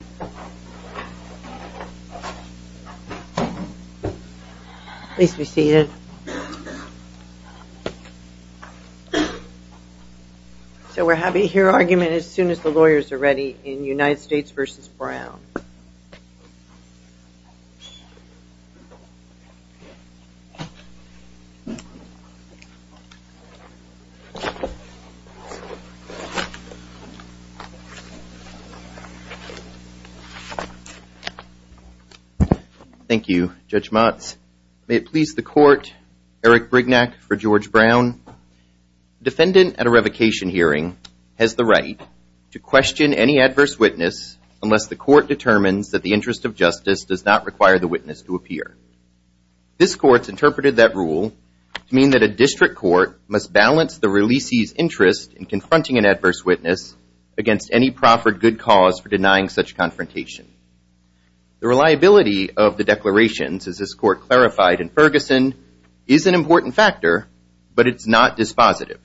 We will have a hear argument as soon as the lawyers are ready in United States v. Brown Thank you, Judge Motz. May it please the court, Eric Brignac for George Brown. Defendant at a revocation hearing has the right to question any adverse witness unless the court determines that the interest of justice does not require the witness to appear. This court's interpreted that rule to mean that a district court must balance the releasee's interest in confronting an adverse witness against any proffered good cause for denying such confrontation. The reliability of the declarations, as this court clarified in Ferguson, is an important factor, but it's not dispositive.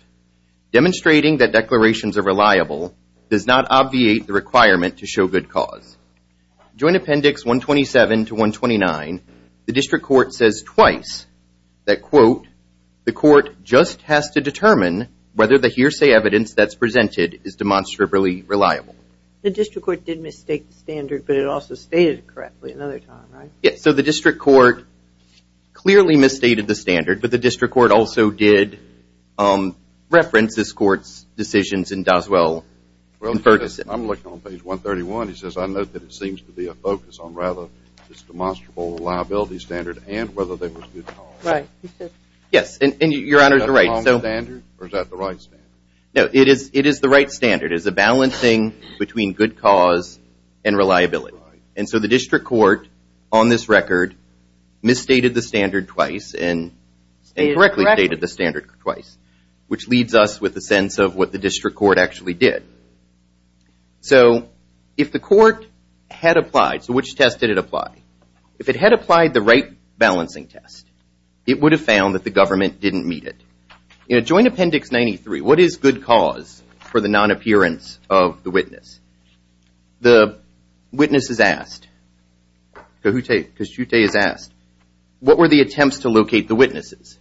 Demonstrating that declarations are reliable does not obviate the requirement to show good cause. Joint Appendix 127 to 129, the district court says twice that, quote, the court just has to determine whether the hearsay evidence that's presented is demonstrably reliable. The district court did mistake the standard, but it also stated it correctly another time, right? Yes, so the district court clearly misstated the standard, but the district court also did reference this court's decisions in Doswell and Ferguson. I'm looking on page 131. It says, I note that it seems to be a focus on rather this demonstrable liability standard and whether there was good cause. Right. Yes, and your Honor is right. Is that the wrong standard or is that the right standard? It is the right standard. It is a balancing between good cause and reliability. And so the district court, on this record, misstated the standard twice and correctly stated the district court actually did. So if the court had applied, so which test did it apply? If it had applied the right balancing test, it would have found that the government didn't meet it. In Joint Appendix 93, what is good cause for the non-appearance of the witness? The witness is asked, Kahute Kishute is asked, what were the attempts to locate the witnesses?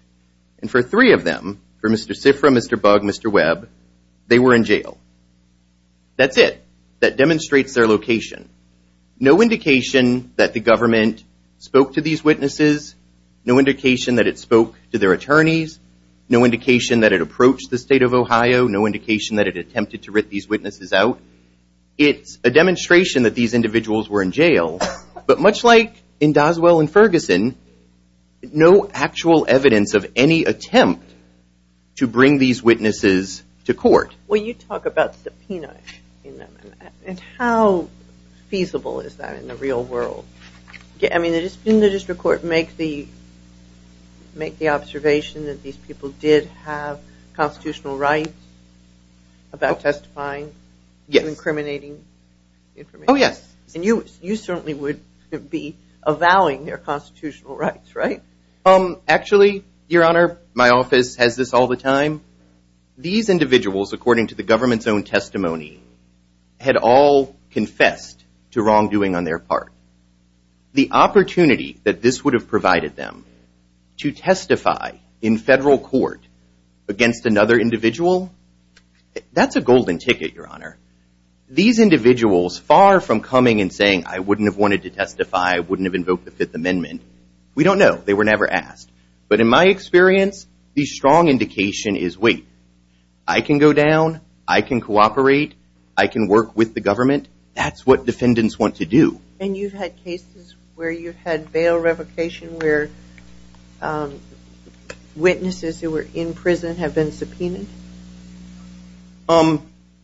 And for three of them, for Mr. Sifra, Mr. Bug, Mr. Webb, they were in jail. That's it. That demonstrates their location. No indication that the government spoke to these witnesses. No indication that it spoke to their attorneys. No indication that it approached the state of Ohio. No indication that it attempted to rip these witnesses out. It's a demonstration that these individuals were in jail. But much like in Doswell and Ferguson, no actual evidence of any attempt to bring these witnesses to court. When you talk about subpoena, how feasible is that in the real world? Didn't the district court make the observation that these people did have constitutional rights about testifying? Yes. And you certainly would be avowing their constitutional rights, right? Actually, Your Honor, my office has this all the time. These individuals, according to the government's own testimony, had all confessed to wrongdoing on their part. The opportunity that this would have provided them to testify in federal court against another individual, that's a golden ticket, Your Honor. These individuals, far from coming and saying, I wouldn't have wanted to testify, I wouldn't have invoked the Fifth Amendment, we don't know. They were never asked. But in my experience, the strong indication is, wait, I can go down, I can cooperate, I can work with the government. That's what defendants want to do. And you've had cases where you've had bail revocation where witnesses who were in prison have been subpoenaed?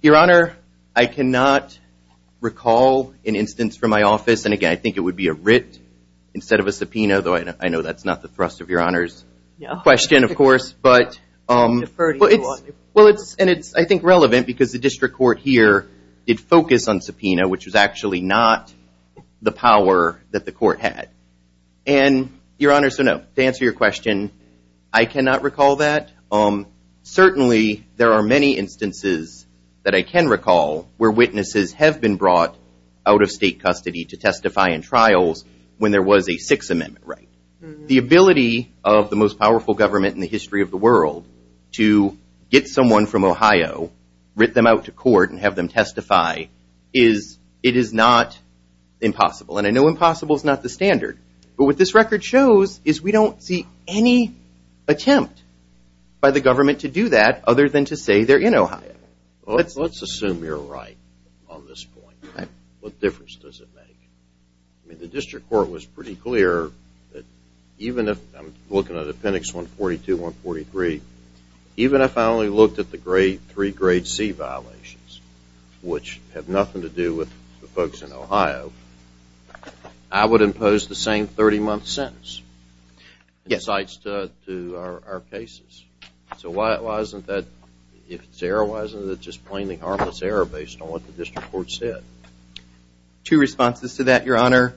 Your Honor, I cannot recall an instance from my office, and again, I think it would be a writ instead of a subpoena, though I know that's not the thrust of Your Honor's question, of course. Deferred to you on it. Well, and it's, I think, relevant because the district court here did focus on subpoena, which was actually not the power that the court had. And Your Honor, so no, to answer your question, I cannot recall that. Certainly, there are many instances that I can recall where witnesses have been brought out of state custody to testify in trials when there was a Sixth Amendment right. The ability of the most powerful government in the history of the world to get someone from Ohio, writ them out to court and have them testify is, it is not impossible. And I know impossible is not the standard. But what this record shows is we don't see any attempt by the government to do that other than to say they're in Ohio. Let's assume you're right on this point. What difference does it make? I mean, the district court was pretty clear that even if, I'm looking at Appendix 142, 143, even if I only looked at the three grade C violations, which have nothing to do with the folks in Ohio, I would impose the same 30-month sentence in sites to our cases. So why isn't that, if it's error, why isn't it just plainly harmless error based on what the district court said? Two responses to that, Your Honor.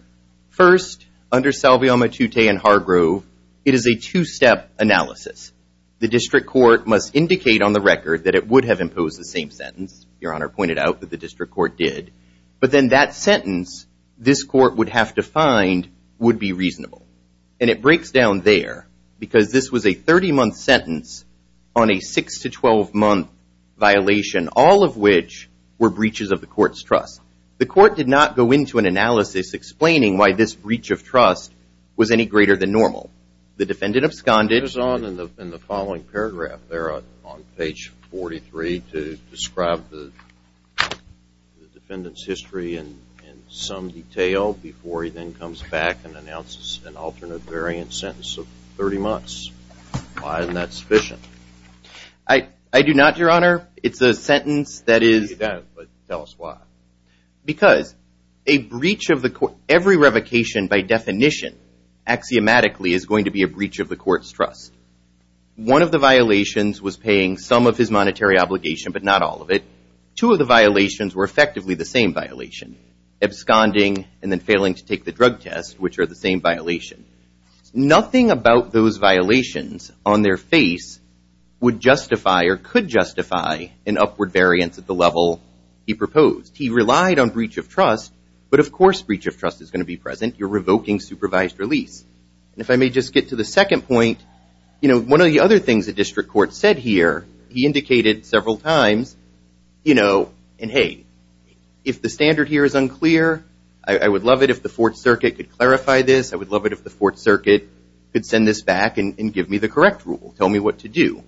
First, under Salveoma, Tutte, and Hargrove, it is a two-step analysis. The district court must indicate on the record that it would have imposed the same sentence. Your Honor pointed out that the district court did. But then that sentence, this court would have to find, would be reasonable. And it breaks down there because this was a 30-month sentence on a 6 to 12-month violation, all of which were breaches of the court's trust. The court did not go into an analysis explaining why this breach of trust was any more than absconded. It goes on in the following paragraph there on page 43 to describe the defendant's history in some detail before he then comes back and announces an alternate variant sentence of 30 months. Why isn't that sufficient? I do not, Your Honor. It's a sentence that is... You don't, but tell us why. Because a breach of the court, every revocation by the court's trust. One of the violations was paying some of his monetary obligation, but not all of it. Two of the violations were effectively the same violation, absconding and then failing to take the drug test, which are the same violation. Nothing about those violations on their face would justify or could justify an upward variance at the level he proposed. He relied on breach of trust, but of course breach of trust is going to be present. You're revoking supervised release. If I may just get to the second point, one of the other things the district court said here, he indicated several times, and hey, if the standard here is unclear, I would love it if the Fourth Circuit could clarify this. I would love it if the Fourth Circuit could send this back and give me the correct rule, tell me what to do.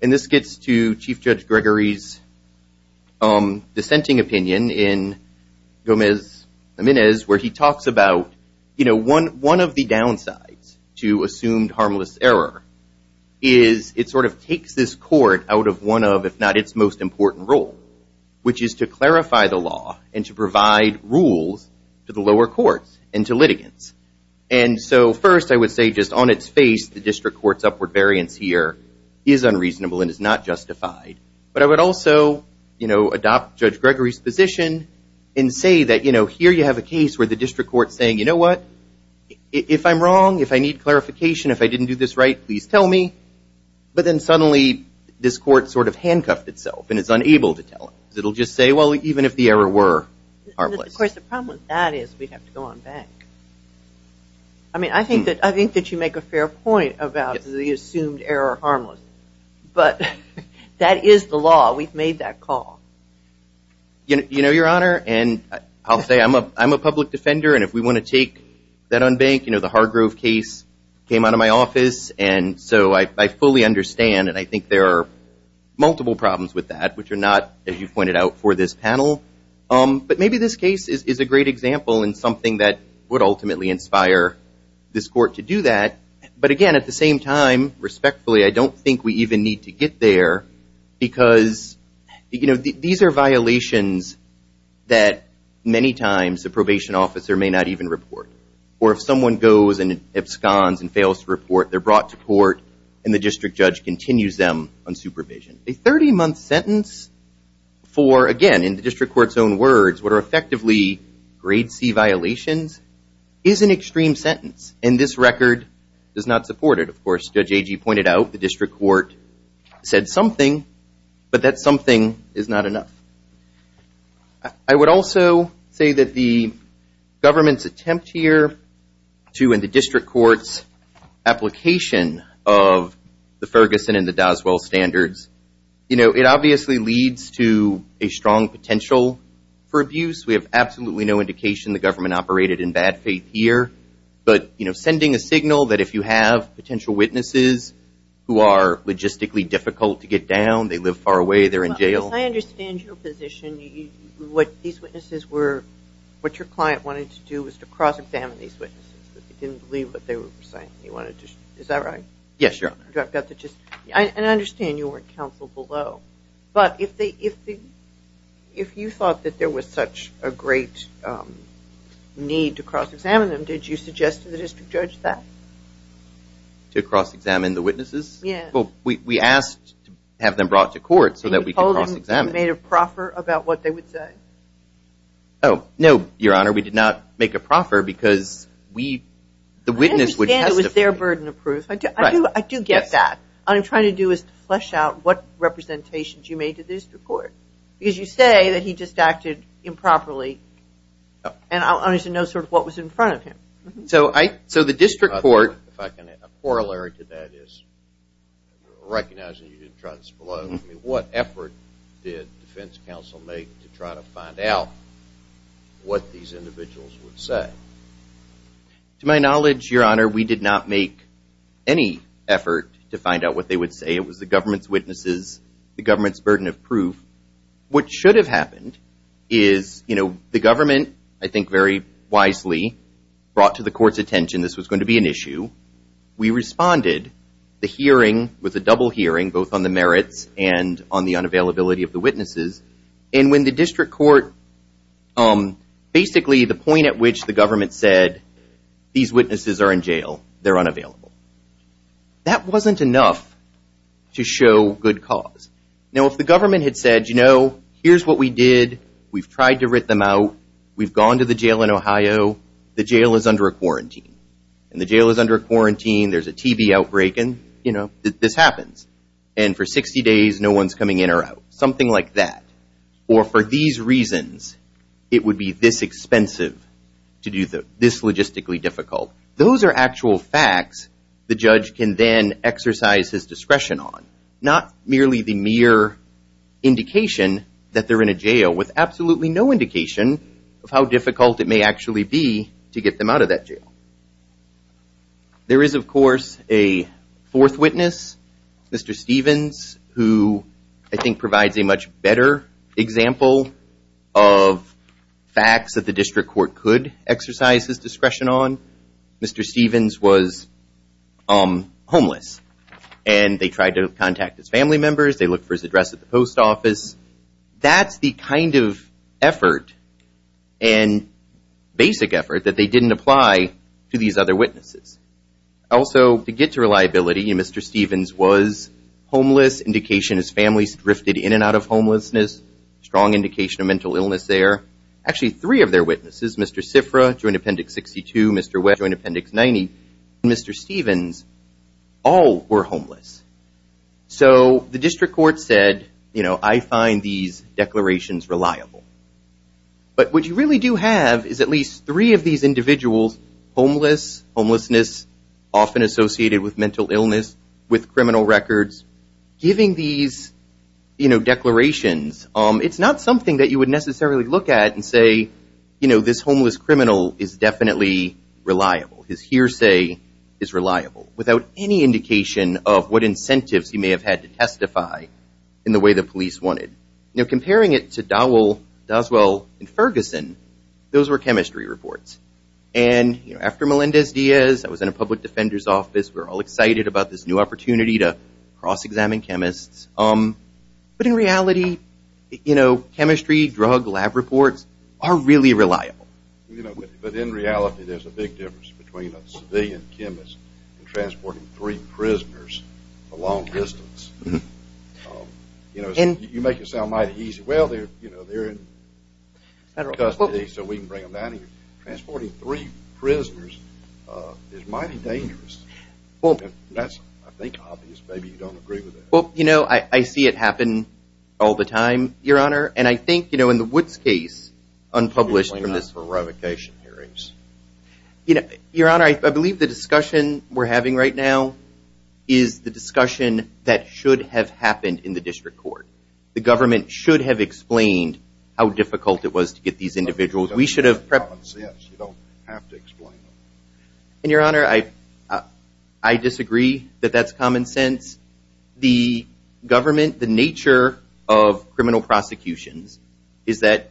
This gets to Chief Judge Gregory's dissenting opinion in Gomez-Laminez where he talks about one of the downsides to assumed harmless error is it takes this court out of one of, if not its most important role, which is to clarify the law and to provide rules to the lower courts and to litigants. First, I would say just on its face, the district court's upward variance here is unreasonable and is not justified, but I would also adopt Judge Gregory's position and say that, you know, here you have a case where the district court's saying, you know what, if I'm wrong, if I need clarification, if I didn't do this right, please tell me, but then suddenly this court sort of handcuffed itself and is unable to tell us. It will just say, well, even if the error were harmless. Of course, the problem with that is we have to go on back. I mean, I think that you make a fair point about the assumed error harmless, but that is the law. We've made that call. You know, Your Honor, and I'll say I'm a public defender, and if we want to take that on bank, you know, the Hargrove case came out of my office, and so I fully understand, and I think there are multiple problems with that, which are not, as you pointed out, for this panel, but maybe this case is a great example and something that would ultimately inspire this court to do that, but again, at the same time, respectfully, I don't think we even need to report violations that many times a probation officer may not even report, or if someone goes and absconds and fails to report, they're brought to court, and the district judge continues them on supervision. A 30-month sentence for, again, in the district court's own words, what are effectively grade C violations is an extreme sentence, and this record does not support it. Of course, Judge Agee pointed out the district court said something, but that something is not enough. I would also say that the government's attempt here to, in the district court's application of the Ferguson and the Doswell standards, you know, it obviously leads to a strong potential for abuse. We have absolutely no indication the government operated in bad faith here, but, you know, sending a signal that if you have potential witnesses who are logistically difficult to get down, they live far away, they're in jail. I understand your position, what these witnesses were, what your client wanted to do was to cross-examine these witnesses, but they didn't believe what they were saying. Is that right? Yes, Your Honor. And I understand you weren't counseled below, but if you thought that there was such a great need to cross-examine them, did you suggest to the district judge that? To cross-examine the witnesses? Yeah. Well, we asked to have them brought to court so that we could cross-examine them. You told them you made a proffer about what they would say? Oh, no, Your Honor, we did not make a proffer because we, the witness would testify. I understand it was their burden of proof. I do get that. What I'm trying to do is to flesh out what representations you made to the district court, because you say that he just acted improperly, and I want you to know sort of what was in front of him. So the district court... A corollary to that is, recognizing you didn't try this below, I mean, what effort did defense counsel make to try to find out what these individuals would say? To my knowledge, Your Honor, we did not make any effort to find out what they would say. It was the government's witnesses, the government's burden of proof. What should have happened is, you know, the government, I think very wisely, brought to the court's attention this was going to be an issue. We responded. The hearing was a double hearing, both on the merits and on the unavailability of the witnesses. And when the district court, basically the point at which the government said, these witnesses are in jail, they're unavailable. That wasn't enough to show good cause. Now, if the government had said, you know, here's what we did, we've tried to rit them out, we've gone to the jail in Ohio, the jail is under a quarantine. And the jail is under a quarantine, there's a TB outbreak, and, you know, this happens. And for 60 days, no one's coming in or out. Something like that. Or for these reasons, it would be this expensive to do this logistically difficult. Those are actual facts the judge can then exercise his discretion on. Not merely the mere indication that they're in a jail with absolutely no indication of how difficult it may actually be to get them out of that jail. There is, of course, a fourth witness, Mr. Stevens. An example of facts that the district court could exercise his discretion on, Mr. Stevens was homeless. And they tried to contact his family members, they looked for his address at the post office. That's the kind of effort and basic effort that they didn't apply to these other witnesses. Also to get to reliability, Mr. Stevens was homeless, indication his family drifted in and out of homelessness, strong indication of mental illness there. Actually three of their witnesses, Mr. Sifra, Joint Appendix 62, Mr. Webb, Joint Appendix 90, and Mr. Stevens, all were homeless. So the district court said, you know, I find these declarations reliable. But what you really do have is at least three of these individuals, homeless, homelessness, often associated with mental illness, with declarations, it's not something that you would necessarily look at and say, you know, this homeless criminal is definitely reliable. His hearsay is reliable. Without any indication of what incentives he may have had to testify in the way the police wanted. Now, comparing it to Dowell, Doswell, and Ferguson, those were chemistry reports. And, you know, after Melendez-Diaz, I was in a public defender's office, we were all excited about this new opportunity to cross-examine chemists. But in reality, you know, chemistry, drug lab reports are really reliable. But in reality there's a big difference between a civilian chemist and transporting three prisoners the long distance. You know, you make it sound mighty easy. Well, they're in custody so we can bring them down here. Transporting three prisoners is mighty dangerous. That's, I think, obvious. Maybe you don't agree with that. Well, you know, I see it happen all the time, Your Honor. And I think, you know, in the Woods case, unpublished from this. You're going out for revocation hearings. You know, Your Honor, I believe the discussion we're having right now is the discussion that should have happened in the district court. The government should have explained how difficult it was to get these individuals. That's common sense. You don't have to explain it. And, Your Honor, I disagree that that's common sense. The government, the nature of criminal prosecutions is that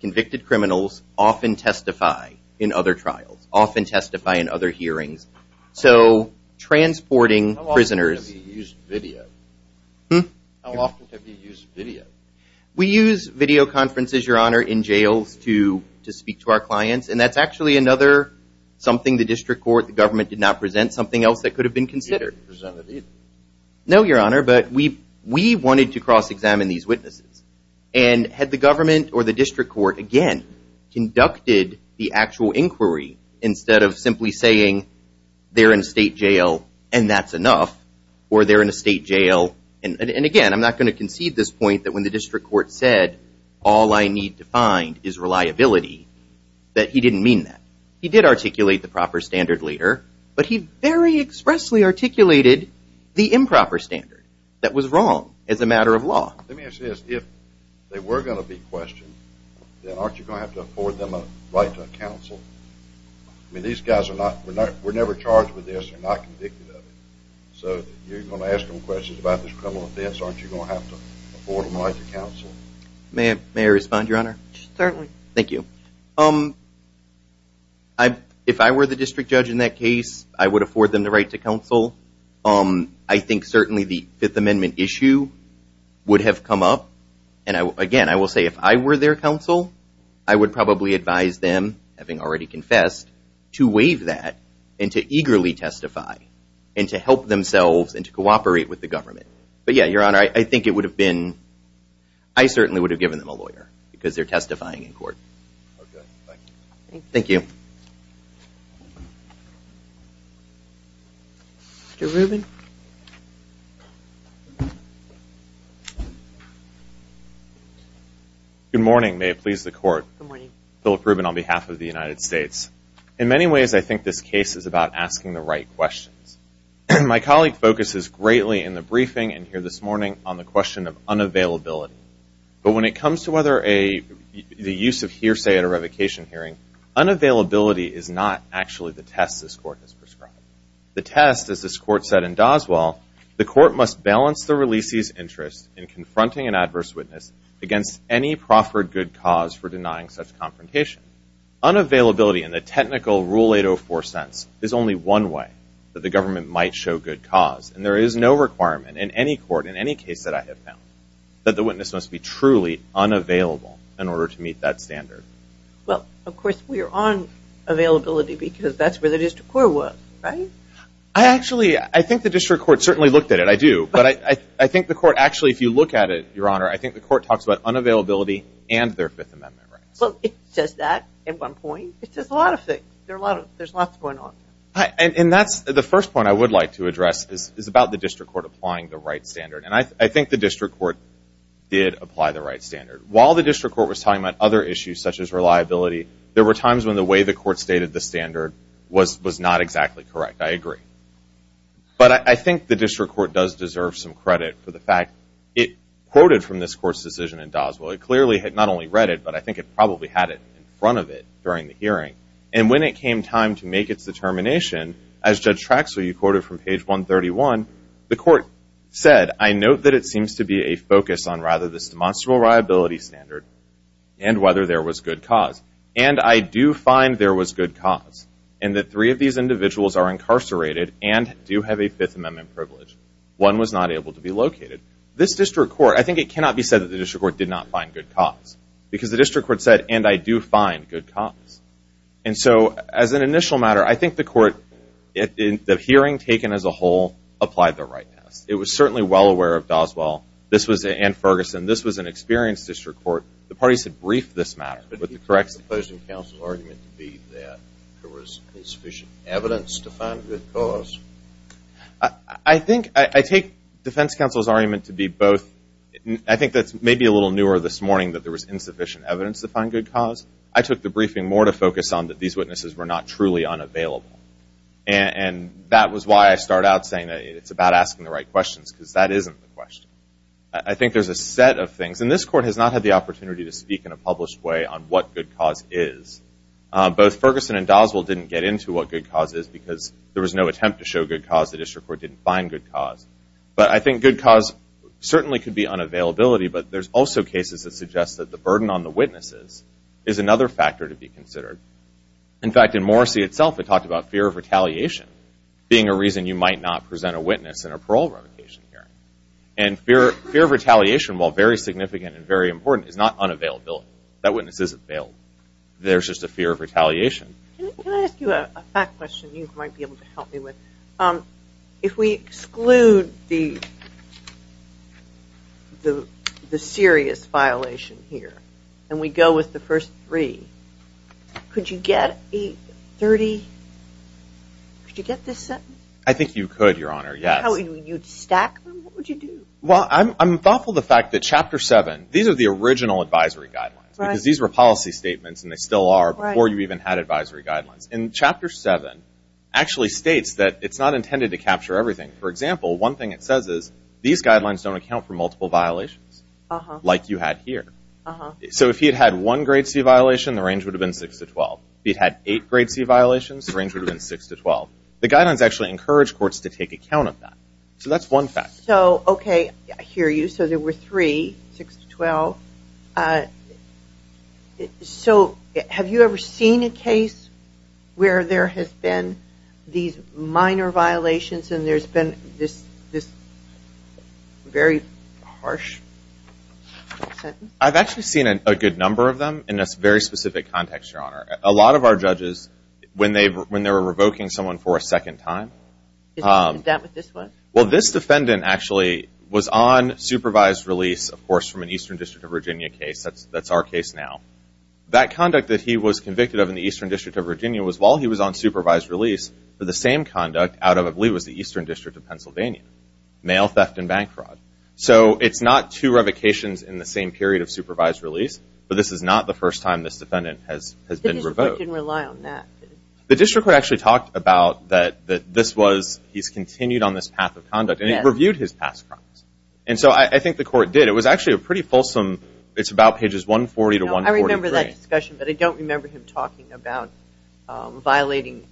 convicted criminals often testify in other trials, often testify in other hearings. So transporting prisoners How often have you used video? Hmm? How often have you used video? We use video conferences, Your Honor, in jails to speak to our clients. And that's actually another something the district court, the government did not present, something else that could have been considered. You didn't present it either? No, Your Honor, but we wanted to cross-examine these witnesses. And had the government or the district court, again, conducted the actual inquiry instead of simply saying, they're in state jail and that's enough, or they're in a state jail And again, I'm not going to concede this point that when the district court said, all I need to find is reliability, that he didn't mean that. He did articulate the proper standard later, but he very expressly articulated the improper standard that was wrong as a matter of law. Let me ask you this. If they were going to be questioned, then aren't you going to have to afford them a right to counsel? I mean, these guys are not, we're never charged with this. They're not convicted of it. So you're going to ask them questions about this criminal offense. Aren't you going to have to afford them a right to counsel? May I respond, Your Honor? Certainly. Thank you. If I were the district judge in that case, I would afford them the right to counsel. I think certainly the Fifth Amendment issue would have come up. And again, I will say if I were their counsel, I would probably advise them, having already confessed, to waive that and to eagerly testify and to help themselves and to cooperate with the government. But yeah, Your Honor, I think it would have been, I certainly would have given them a lawyer because they're testifying in court. Thank you. Mr. Rubin. Good morning. May it please the Court. Good morning. Philip Rubin on behalf of the United States. In many ways, I think this case is about asking the right questions. My colleague focuses greatly in the briefing and here this morning on the question of unavailability. But when it comes to whether the use of hearsay at a revocation hearing, unavailability is not actually the test this Court has prescribed. The test, as this Court said in Doswell, the Court must balance the releasee's interest in confronting an adverse witness against any proffered good cause for denying such confrontation. Unavailability in the technical Rule 804 sense is only one way that the government might show good cause. And there is no requirement in any court, in any case that I have found, that the witness must be truly unavailable in order to meet that standard. Well, of course, we are on availability because that's where the district court was, right? I actually, I think the district court certainly looked at it. I do. But I think the court actually, if you look at it, Your Honor, I think the court talks about unavailability and their Fifth Amendment rights. Well, it says that at one point. It says a lot of things. There's lots going on. And that's the first point I would like to address is about the district court applying the right standard. And I think the district court did apply the right standard. While the district court was talking about other issues such as reliability, there were times when the way the court stated the standard was not exactly correct. I agree. But I think the district court does deserve some credit for the fact it quoted from this court's decision in Doswell. It clearly had not only read it, but I think it probably had it in front of it during the hearing. And when it came time to make its determination, as Judge Traxler, you quoted from page 131, the court said, I note that it seems to be a focus on rather this demonstrable reliability standard and whether there was good cause. And I do find there was good cause in that three of these individuals are incarcerated and do have a Fifth Amendment privilege. One was not able to be located. This district court, I think it cannot be said that the district court did not find good cause because the district court said, and I do find good cause. And so as an initial matter, I think the court, the hearing taken as a whole, applied the right test. It was certainly well aware of Doswell. This was in Ferguson. This was an experienced district court. The parties had briefed this matter with the correctness. The opposing counsel's argument to be that there was insufficient evidence to find good cause? I think I take defense counsel's argument to be both. I think that's maybe a little newer this morning that there was insufficient evidence to find good cause. I took the briefing more to focus on that these witnesses were not truly unavailable. And that was why I start out saying that it's about asking the right questions because that isn't the question. I think there's a set of things. And this court has not had the opportunity to speak in a published way on what good cause is. Both Ferguson and Doswell didn't get into what good cause is because there was no attempt to show good cause. The district court didn't find good cause. But I think good cause certainly could be unavailability, but there's also cases that suggest that the burden on the witnesses is another factor to be considered. In fact, in Morrissey itself, it talked about fear of retaliation being a reason you might not present a witness in a parole revocation hearing. And fear of retaliation, while very significant and very important, is not unavailability. That witness isn't bailed. There's just a fear of retaliation. Can I ask you a fact question you might be able to help me with? If we exclude the serious violation here and we go with the first three, could you get this sentence? I think you could, Your Honor, yes. You'd stack them? What would you do? Well, I'm thoughtful of the fact that Chapter 7, these are the original advisory guidelines. Because these were policy statements and they still are before you even had advisory guidelines. And Chapter 7 actually states that it's not intended to capture everything. For example, one thing it says is, these guidelines don't account for multiple violations like you had here. So if he had had one grade C violation, the range would have been 6 to 12. If he had had eight grade C violations, the range would have been 6 to 12. The guidelines actually encourage courts to take account of that. So that's one fact. So, okay, I hear you. So there were three, 6 to 12. So have you ever seen a case where there has been these minor violations and there's been this very harsh sentence? I've actually seen a good number of them in this very specific context, Your Honor. A lot of our judges, when they were revoking someone for a second time. Is that what this was? Well, this defendant actually was on supervised release, of course, from an Eastern District of Virginia case. That's our case now. That conduct that he was convicted of in the Eastern District of Virginia was while he was on supervised release for the same conduct out of, I believe, it was the Eastern District of Pennsylvania, mail theft and bank fraud. So it's not two revocations in the same period of supervised release, but this is not the first time this defendant has been revoked. The district court didn't rely on that. The district court actually talked about that this was, he's continued on this path of conduct, and it reviewed his past crimes. And so I think the court did. It was actually a pretty fulsome, it's about pages 140 to 143. But I don't remember him talking about violating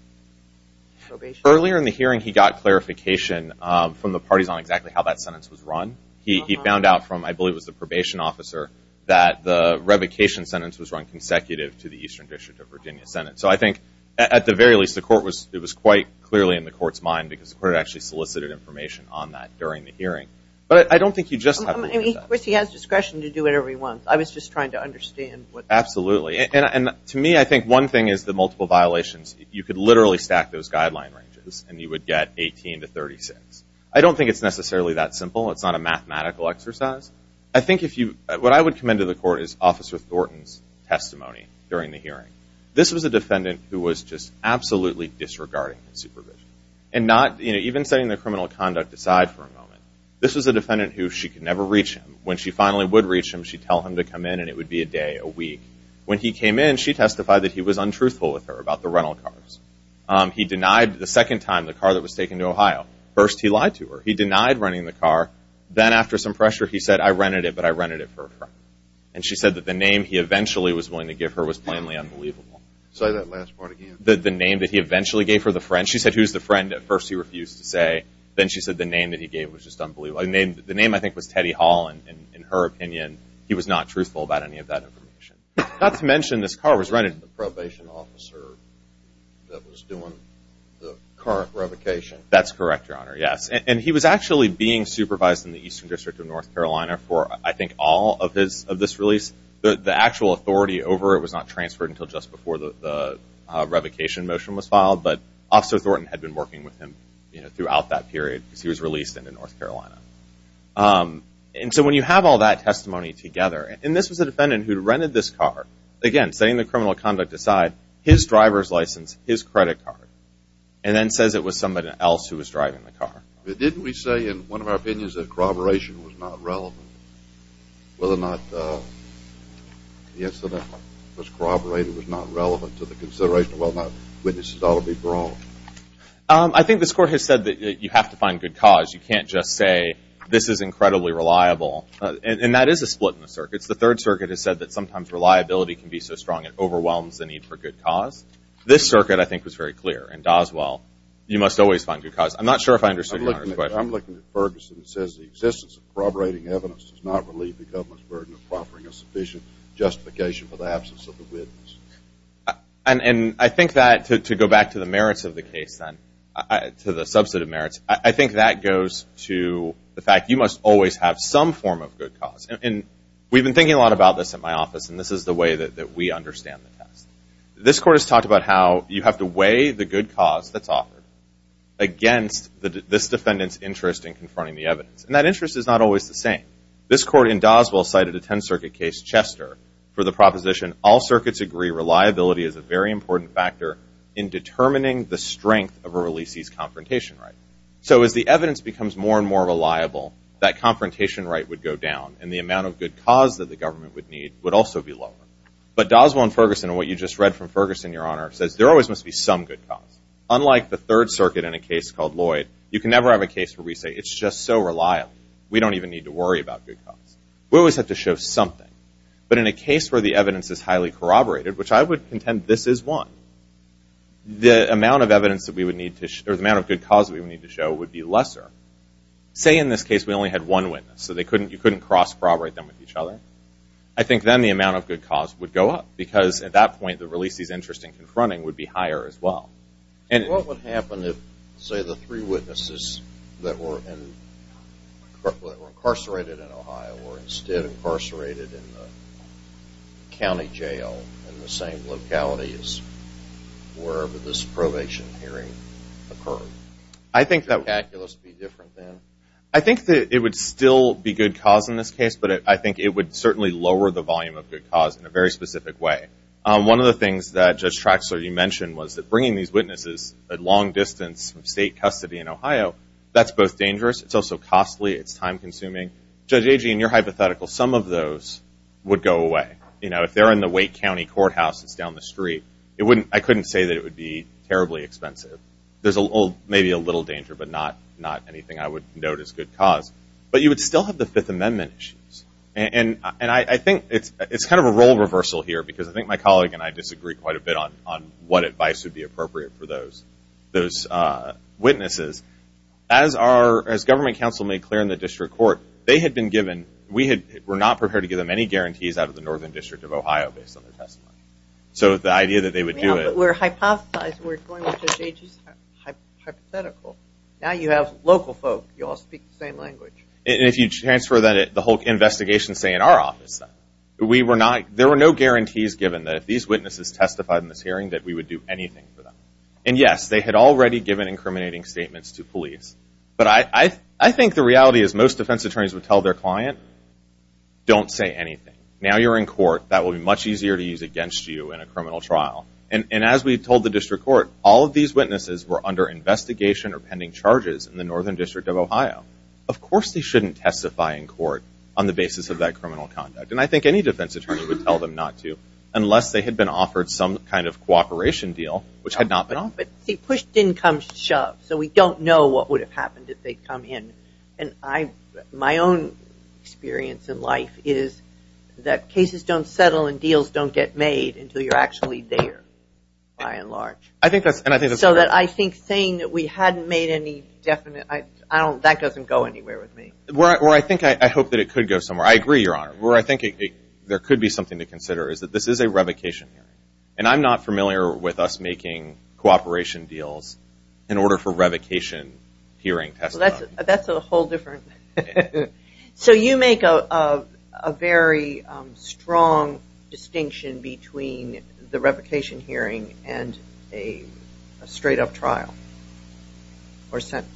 probation. Earlier in the hearing, he got clarification from the parties on exactly how that sentence was run. He found out from, I believe it was the probation officer, that the revocation sentence was run consecutive to the Eastern District of Virginia sentence. So I think, at the very least, it was quite clearly in the court's mind because the court actually solicited information on that during the hearing. But I don't think you just have to do that. Of course, he has discretion to do whatever he wants. I was just trying to understand. Absolutely. And to me, I think one thing is the multiple violations. You could literally stack those guideline ranges, and you would get 18 to 36. I don't think it's necessarily that simple. It's not a mathematical exercise. I think if you, what I would commend to the court is Officer Thornton's testimony during the hearing. This was a defendant who was just absolutely disregarding his supervision. And not, you know, even setting the criminal conduct aside for a moment, this was a defendant who she could never reach him. When she finally would reach him, she'd tell him to come in, and it would be a day, a week. When he came in, she testified that he was untruthful with her about the rental cars. He denied the second time the car that was taken to Ohio. First, he lied to her. He denied renting the car. Then, after some pressure, he said, I rented it, but I rented it for a friend. And she said that the name he eventually was willing to give her was plainly unbelievable. Say that last part again. The name that he eventually gave her, the friend. She said, who's the friend? At first, he refused to say. Then she said the name that he gave was just unbelievable. The name, I think, was Teddy Hall. In her opinion, he was not truthful about any of that information. Not to mention, this car was rented. He was the probation officer that was doing the car revocation. That's correct, Your Honor. Yes. And he was actually being supervised in the Eastern District of North Carolina for, I think, all of this release. The actual authority over it was not transferred until just before the revocation motion was filed, but Officer Thornton had been working with him throughout that period, because he was released into North Carolina. And so when you have all that testimony together, and this was a defendant who rented this car, again, setting the criminal conduct aside, his driver's license, his credit card, and then says it was somebody else who was driving the car. Didn't we say in one of our opinions that corroboration was not relevant? Whether or not the incident was corroborated was not relevant to the consideration of whether or not witnesses ought to be brought? I think this Court has said that you have to find good cause. You can't just say this is incredibly reliable. And that is a split in the circuits. The Third Circuit has said that sometimes reliability can be so strong it overwhelms the need for good cause. This circuit, I think, was very clear. In Doswell, you must always find good cause. I'm not sure if I understood your question. I'm looking at Ferguson. It says the existence of corroborating evidence does not relieve the government's burden of offering a sufficient justification for the absence of the witness. And I think that, to go back to the merits of the case then, to the subset of merits, I think that goes to the fact you must always have some form of good cause. And we've been thinking a lot about this at my office, and this is the way that we understand the test. This Court has talked about how you have to weigh the good cause that's offered against this defendant's interest in confronting the evidence. And that interest is not always the same. This Court in Doswell cited a Tenth Circuit case, Chester, for the proposition, all circuits agree reliability is a very important factor in determining the strength of a releasee's confrontation right. So as the evidence becomes more and more reliable, that confrontation right would go down, and the amount of good cause that the government would need would also be lower. But Doswell and Ferguson, and what you just read from Ferguson, Your Honor, says there always must be some good cause. Unlike the Third Circuit in a case called Lloyd, you can never have a case where we say it's just so reliable. We don't even need to worry about good cause. We always have to show something. But in a case where the evidence is highly corroborated, which I would contend this is one, the amount of evidence that we would need to show, or the amount of good cause that we would need to show, would be lesser. Say in this case we only had one witness, so you couldn't cross-corroborate them with each other. I think then the amount of good cause would go up, because at that point the releasee's interest in confronting would be higher as well. What would happen if, say, the three witnesses that were incarcerated in Ohio were instead incarcerated in the county jail in the same locality as wherever this probation hearing occurred? Would the calculus be different then? I think that it would still be good cause in this case, but I think it would certainly lower the volume of good cause in a very specific way. One of the things that Judge Traxler, you mentioned, was that bringing these witnesses at long distance from state custody in Ohio, that's both dangerous, it's also costly, it's time-consuming. Judge Agee, in your hypothetical, some of those would go away. If they're in the Wake County courthouse that's down the street, I couldn't say that it would be terribly expensive. There's maybe a little danger, but not anything I would note as good cause. But you would still have the Fifth Amendment issues. And I think it's kind of a role reversal here, because I think my colleague and I disagree quite a bit on what advice would be appropriate for those witnesses. As government counsel made clear in the district court, they had been given, we were not prepared to give them any guarantees out of the Northern District of Ohio, based on their testimony. So the idea that they would do it. Yeah, but we're hypothesizing, we're going with Judge Agee's hypothetical. Now you have local folk, you all speak the same language. And if you transfer the whole investigation, say, in our office, there were no guarantees given that if these witnesses testified in this hearing that we would do anything for them. And, yes, they had already given incriminating statements to police. But I think the reality is most defense attorneys would tell their client, don't say anything. Now you're in court. That will be much easier to use against you in a criminal trial. And as we told the district court, all of these witnesses were under investigation or pending charges in the Northern District of Ohio. Of course they shouldn't testify in court on the basis of that criminal conduct. And I think any defense attorney would tell them not to, unless they had been offered some kind of cooperation deal, which had not been offered. See, push didn't come to shove. So we don't know what would have happened if they'd come in. And I, my own experience in life is that cases don't settle and deals don't get made until you're actually there, by and large. So that I think saying that we hadn't made any definite, I don't, that doesn't go anywhere with me. Well, I think I hope that it could go somewhere. I agree, Your Honor, where I think there could be something to consider is that this is a revocation hearing. And I'm not familiar with us making cooperation deals in order for revocation hearing. That's a whole different. So you make a, a very strong distinction between the revocation hearing and a straight up trial or sentence.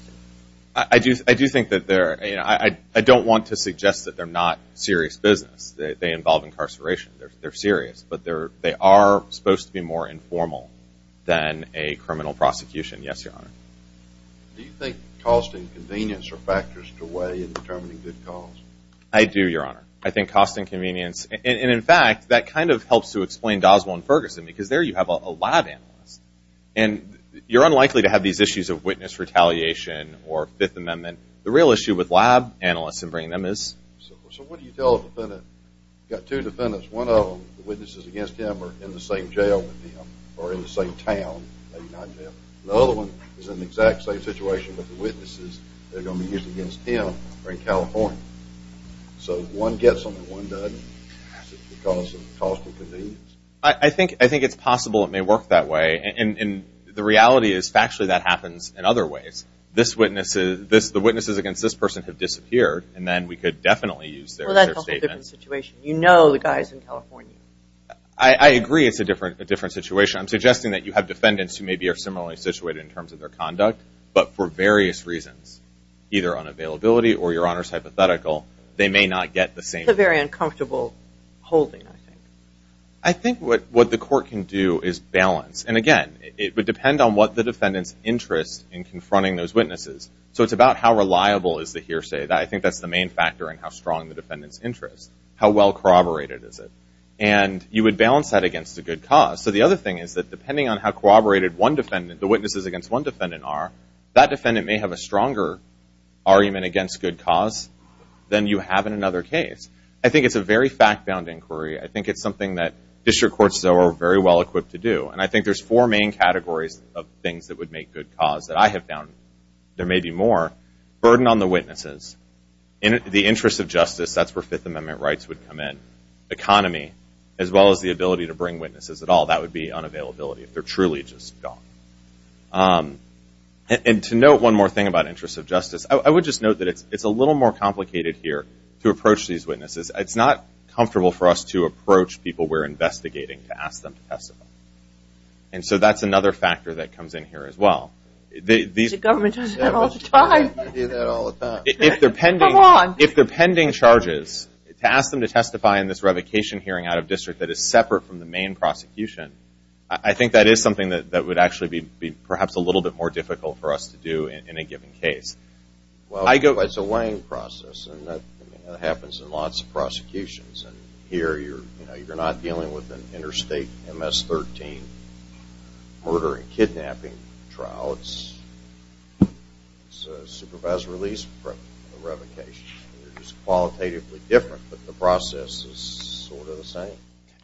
I do. I do think that there, I don't want to suggest that they're not serious business. They involve incarceration. They're serious, but they are supposed to be more informal than a criminal prosecution. Yes, Your Honor. Do you think cost and convenience are factors to weigh in determining good cause? I do, Your Honor. I think cost and convenience, and in fact, that kind of helps to explain Doswell and Ferguson because there you have a lab analyst. And you're unlikely to have these issues of witness retaliation or Fifth Amendment. The real issue with lab analysts and bringing them is. So what do you tell a defendant? You've got two defendants. One of them, the witnesses against him are in the same jail with him or in the same town. The other one is in the exact same situation with the witnesses. They're going to be used against him or in California. So if one gets them and one doesn't, is it because of cost and convenience? I think it's possible it may work that way. And the reality is factually that happens in other ways. This witness, the witnesses against this person have disappeared, and then we could definitely use their statement. Well, that's a whole different situation. You know the guy's in California. I agree it's a different situation. I'm suggesting that you have defendants who maybe are similarly situated in terms of their conduct, but for various reasons, either unavailability or your Honor's hypothetical, they may not get the same. It's a very uncomfortable holding, I think. I think what the court can do is balance. And again, it would depend on what the defendant's interest in confronting those witnesses. So it's about how reliable is the hearsay. I think that's the main factor in how strong the defendant's interest, how well corroborated is it. And you would balance that against a good cause. So the other thing is that depending on how corroborated one defendant, the witnesses against one defendant are, that defendant may have a stronger argument against good cause than you have in another case. I think it's a very fact-bound inquiry. I think it's something that district courts, though, are very well equipped to do. And I think there's four main categories of things that would make good cause that I have found. There may be more. Burden on the witnesses. The interest of justice, that's where Fifth Amendment rights would come in. Economy, as well as the ability to bring witnesses at all. That would be unavailability if they're truly just gone. And to note one more thing about interest of justice, I would just note that it's a little more complicated here to approach these witnesses. It's not comfortable for us to approach people we're investigating to ask them to testify. And so that's another factor that comes in here as well. The government does that all the time. They do that all the time. Come on. If they're pending charges, to ask them to testify in this revocation hearing out of district that is separate from the main prosecution, I think that is something that would actually be perhaps a little bit more difficult for us to do in a given case. Well, it's a weighing process. And that happens in lots of prosecutions. And here you're not dealing with an interstate MS-13 murder and kidnapping trial. It's a supervised release from a revocation. It's qualitatively different, but the process is sort of the same.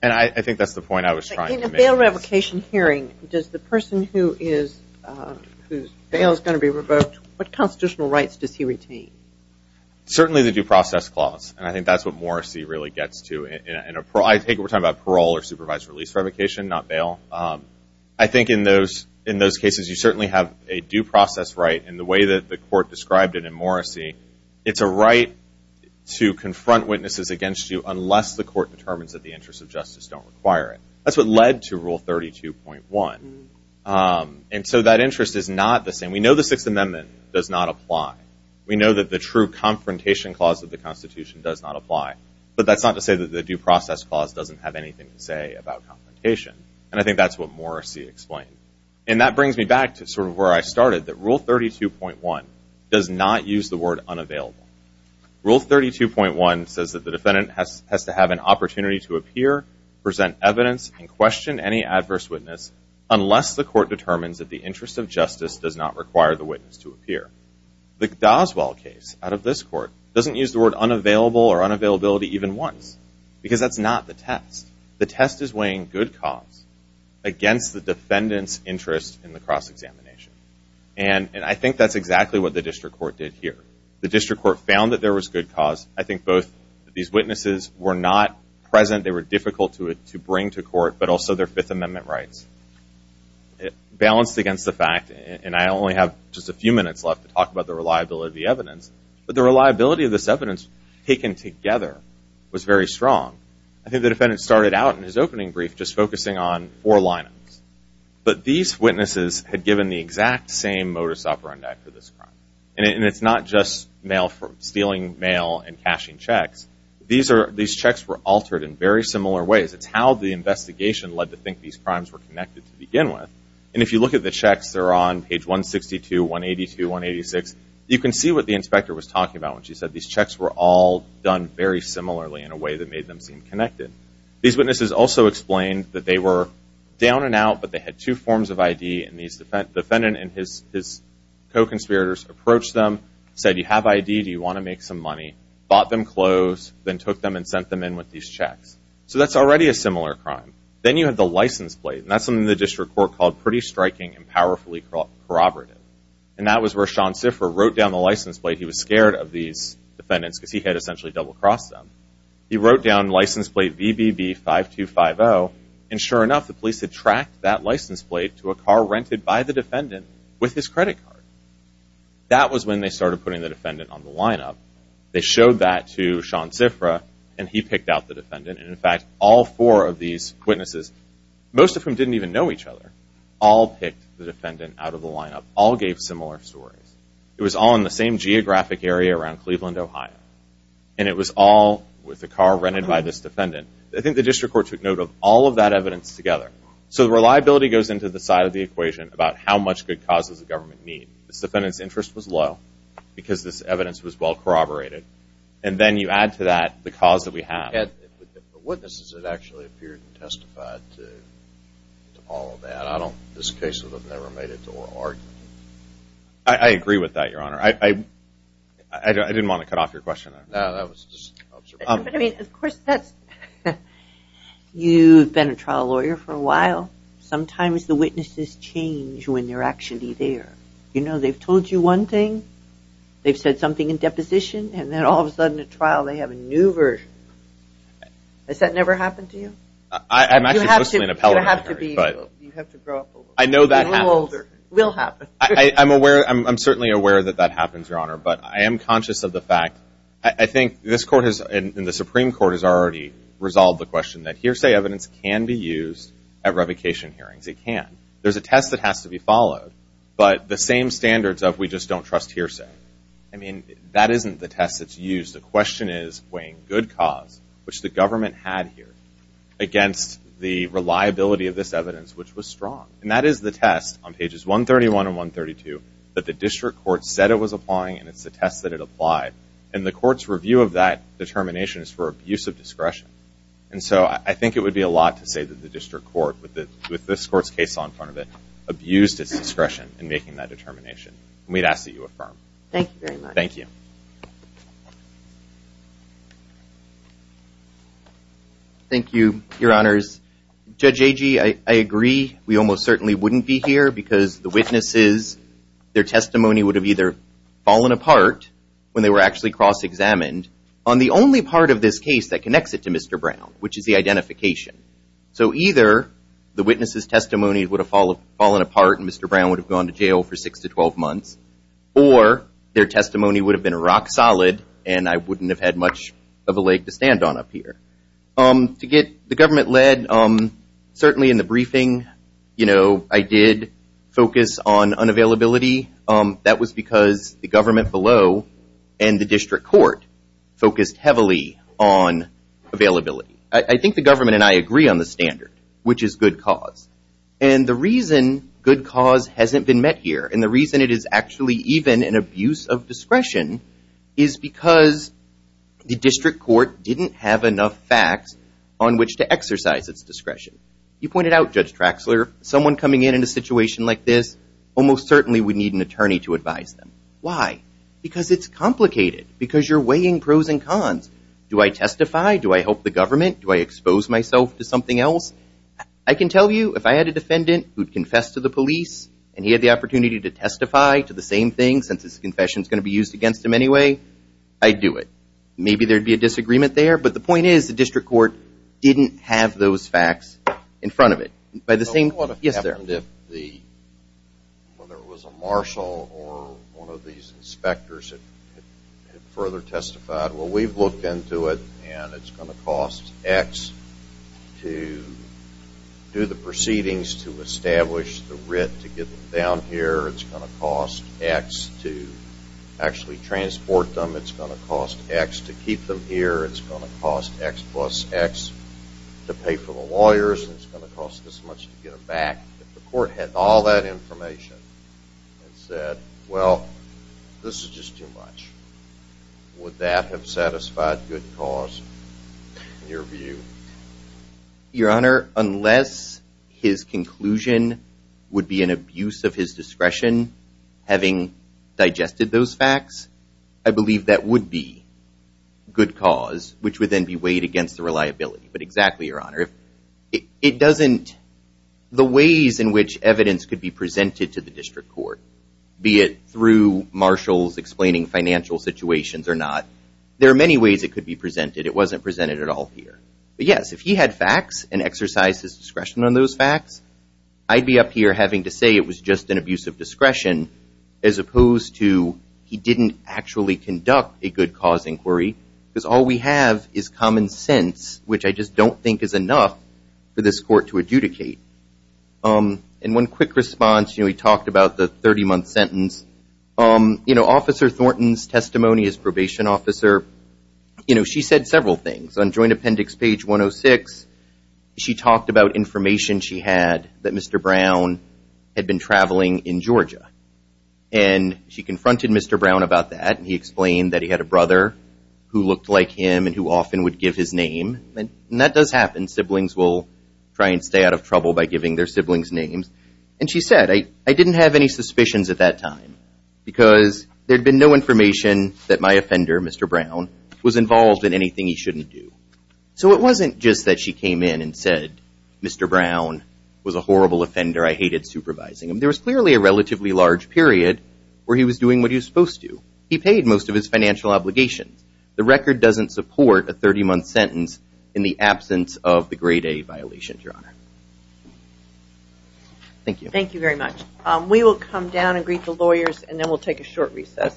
And I think that's the point I was trying to make. In a bail revocation hearing, does the person whose bail is going to be revoked, what constitutional rights does he retain? Certainly the due process clause. And I think that's what Morrissey really gets to. I think we're talking about parole or supervised release revocation, not bail. I think in those cases you certainly have a due process right. And the way that the court described it in Morrissey, it's a right to confront witnesses against you unless the court determines that the interests of justice don't require it. That's what led to Rule 32.1. And so that interest is not the same. We know the Sixth Amendment does not apply. We know that the true confrontation clause of the Constitution does not apply. But that's not to say that the due process clause doesn't have anything to say about confrontation. And I think that's what Morrissey explained. And that brings me back to sort of where I started, that Rule 32.1 does not use the word unavailable. Rule 32.1 says that the defendant has to have an opportunity to appear, present evidence, and question any adverse witness unless the court determines that the interest of justice does not require the witness to appear. The Doswell case out of this court doesn't use the word unavailable or unavailability even once because that's not the test. The test is weighing good cause against the defendant's interest in the cross-examination. And I think that's exactly what the district court did here. The district court found that there was good cause. I think both these witnesses were not present, they were difficult to bring to court, but also their Fifth Amendment rights. Balanced against the fact, and I only have just a few minutes left to talk about the reliability of the evidence, but the reliability of this evidence taken together was very strong. I think the defendant started out in his opening brief just focusing on four lineups. But these witnesses had given the exact same modus operandi for this crime. And it's not just stealing mail and cashing checks. These checks were altered in very similar ways. It's how the investigation led to think these crimes were connected to begin with. And if you look at the checks, they're on page 162, 182, 186. You can see what the inspector was talking about when she said these checks were all done very similarly in a way that made them seem connected. These witnesses also explained that they were down and out, but they had two forms of ID, and the defendant and his co-conspirators approached them, said, you have ID, do you want to make some money? Bought them clothes, then took them and sent them in with these checks. So that's already a similar crime. Then you have the license plate, and that's something the district court called pretty striking and powerfully corroborative. And that was where Sean Siffer wrote down the license plate. He was scared of these defendants because he had essentially double-crossed them. He wrote down license plate VBB5250, and sure enough, the police had tracked that license plate to a car rented by the defendant with his credit card. That was when they started putting the defendant on the lineup. They showed that to Sean Siffer, and he picked out the defendant. And in fact, all four of these witnesses, most of whom didn't even know each other, all picked the defendant out of the lineup, all gave similar stories. It was all in the same geographic area around Cleveland, Ohio. And it was all with a car rented by this defendant. I think the district court took note of all of that evidence together. So reliability goes into the side of the equation about how much good causes the government need. This defendant's interest was low because this evidence was well corroborated. And then you add to that the cause that we have. But the witnesses had actually appeared and testified to all of that. I don't think this case would have never made it to oral argument. I agree with that, Your Honor. I didn't want to cut off your question. You've been a trial lawyer for a while. Sometimes the witnesses change when they're actually there. You know, they've told you one thing, they've said something in deposition, and then all of a sudden at trial they have a new version. Has that never happened to you? I'm actually supposed to be an appellate. You have to grow up a little. I know that happened. I'm certainly aware that that happens, Your Honor. But I am conscious of the fact, I think this court and the Supreme Court has already resolved the question that hearsay evidence can be used at revocation hearings. It can. There's a test that has to be followed. But the same standards of we just don't trust hearsay. I mean, that isn't the test that's used. The question is weighing good cause, which the government had here, against the reliability of this evidence, which was strong. And that is the test on pages 131 and 132 that the district court said it was applying, and it's the test that it applied. And the court's review of that determination is for abuse of discretion. And so I think it would be a lot to say that the district court, with this court's case in front of it, abused its discretion in making that determination. And we'd ask that you affirm. Thank you very much. Thank you. Thank you, Your Honors. Judge Agee, I agree we almost certainly wouldn't be here because the witnesses, their testimony would have either fallen apart when they were actually cross-examined on the only part of this case that connects it to Mr. Brown, which is the identification. So either the witnesses' testimony would have fallen apart and Mr. Brown would have gone to jail for 6 to 12 months, or their testimony would have been rock solid and I wouldn't have had much of a leg to stand on up here. To get the government led, certainly in the briefing I did focus on unavailability. That was because the government below and the district court focused heavily on availability. I think the government and I agree on the standard, which is good cause. And the reason good cause hasn't been met here, and the reason it is actually even an abuse of discretion, is because the district court didn't have enough facts on which to exercise its discretion. You pointed out, Judge Traxler, someone coming in in a situation like this almost certainly would need an attorney to advise them. Why? Because it's complicated. Because you're weighing pros and cons. Do I testify? Do I help the government? Do I expose myself to something else? I can tell you if I had a defendant who'd confessed to the police and he had the opportunity to testify to the same thing, and since his confession is going to be used against him anyway, I'd do it. Maybe there would be a disagreement there, but the point is the district court didn't have those facts in front of it. Yes, sir. Whether it was a marshal or one of these inspectors that had further testified, well, we've looked into it, and it's going to cost X to do the proceedings to establish the writ to get them down here. It's going to cost X to actually transport them. It's going to cost X to keep them here. It's going to cost X plus X to pay for the lawyers. It's going to cost this much to get them back. If the court had all that information and said, well, this is just too much, would that have satisfied good cause in your view? Your Honor, unless his conclusion would be an abuse of his discretion having digested those facts, I believe that would be good cause, which would then be weighed against the reliability. But exactly, Your Honor. It doesn't, the ways in which evidence could be presented to the district court, be it through marshals explaining financial situations or not, there are many ways it could be presented. It wasn't presented at all here. But yes, if he had facts and exercised his discretion on those facts, I'd be up here having to say it was just an abuse of discretion as opposed to he didn't actually conduct a good cause inquiry because all we have is common sense, which I just don't think is enough for this court to adjudicate. And one quick response, we talked about the 30-month sentence. Officer Thornton's testimony as probation officer, she said several things. On Joint Appendix page 106, she talked about information she had that Mr. Brown had been traveling in Georgia. And she confronted Mr. Brown about that, and he explained that he had a brother who looked like him and who often would give his name. And that does happen. Siblings will try and stay out of trouble by giving their siblings names. And she said, I didn't have any suspicions at that time because there had been no information that my offender, Mr. Brown, was involved in anything he shouldn't do. So it wasn't just that she came in and said, Mr. Brown was a horrible offender. I hated supervising him. There was clearly a relatively large period where he was doing what he was supposed to. He paid most of his financial obligations. The record doesn't support a 30-month sentence in the absence of the Grade A violation, Your Honor. Thank you. Thank you very much. We will come down and greet the lawyers, and then we'll take a short recess.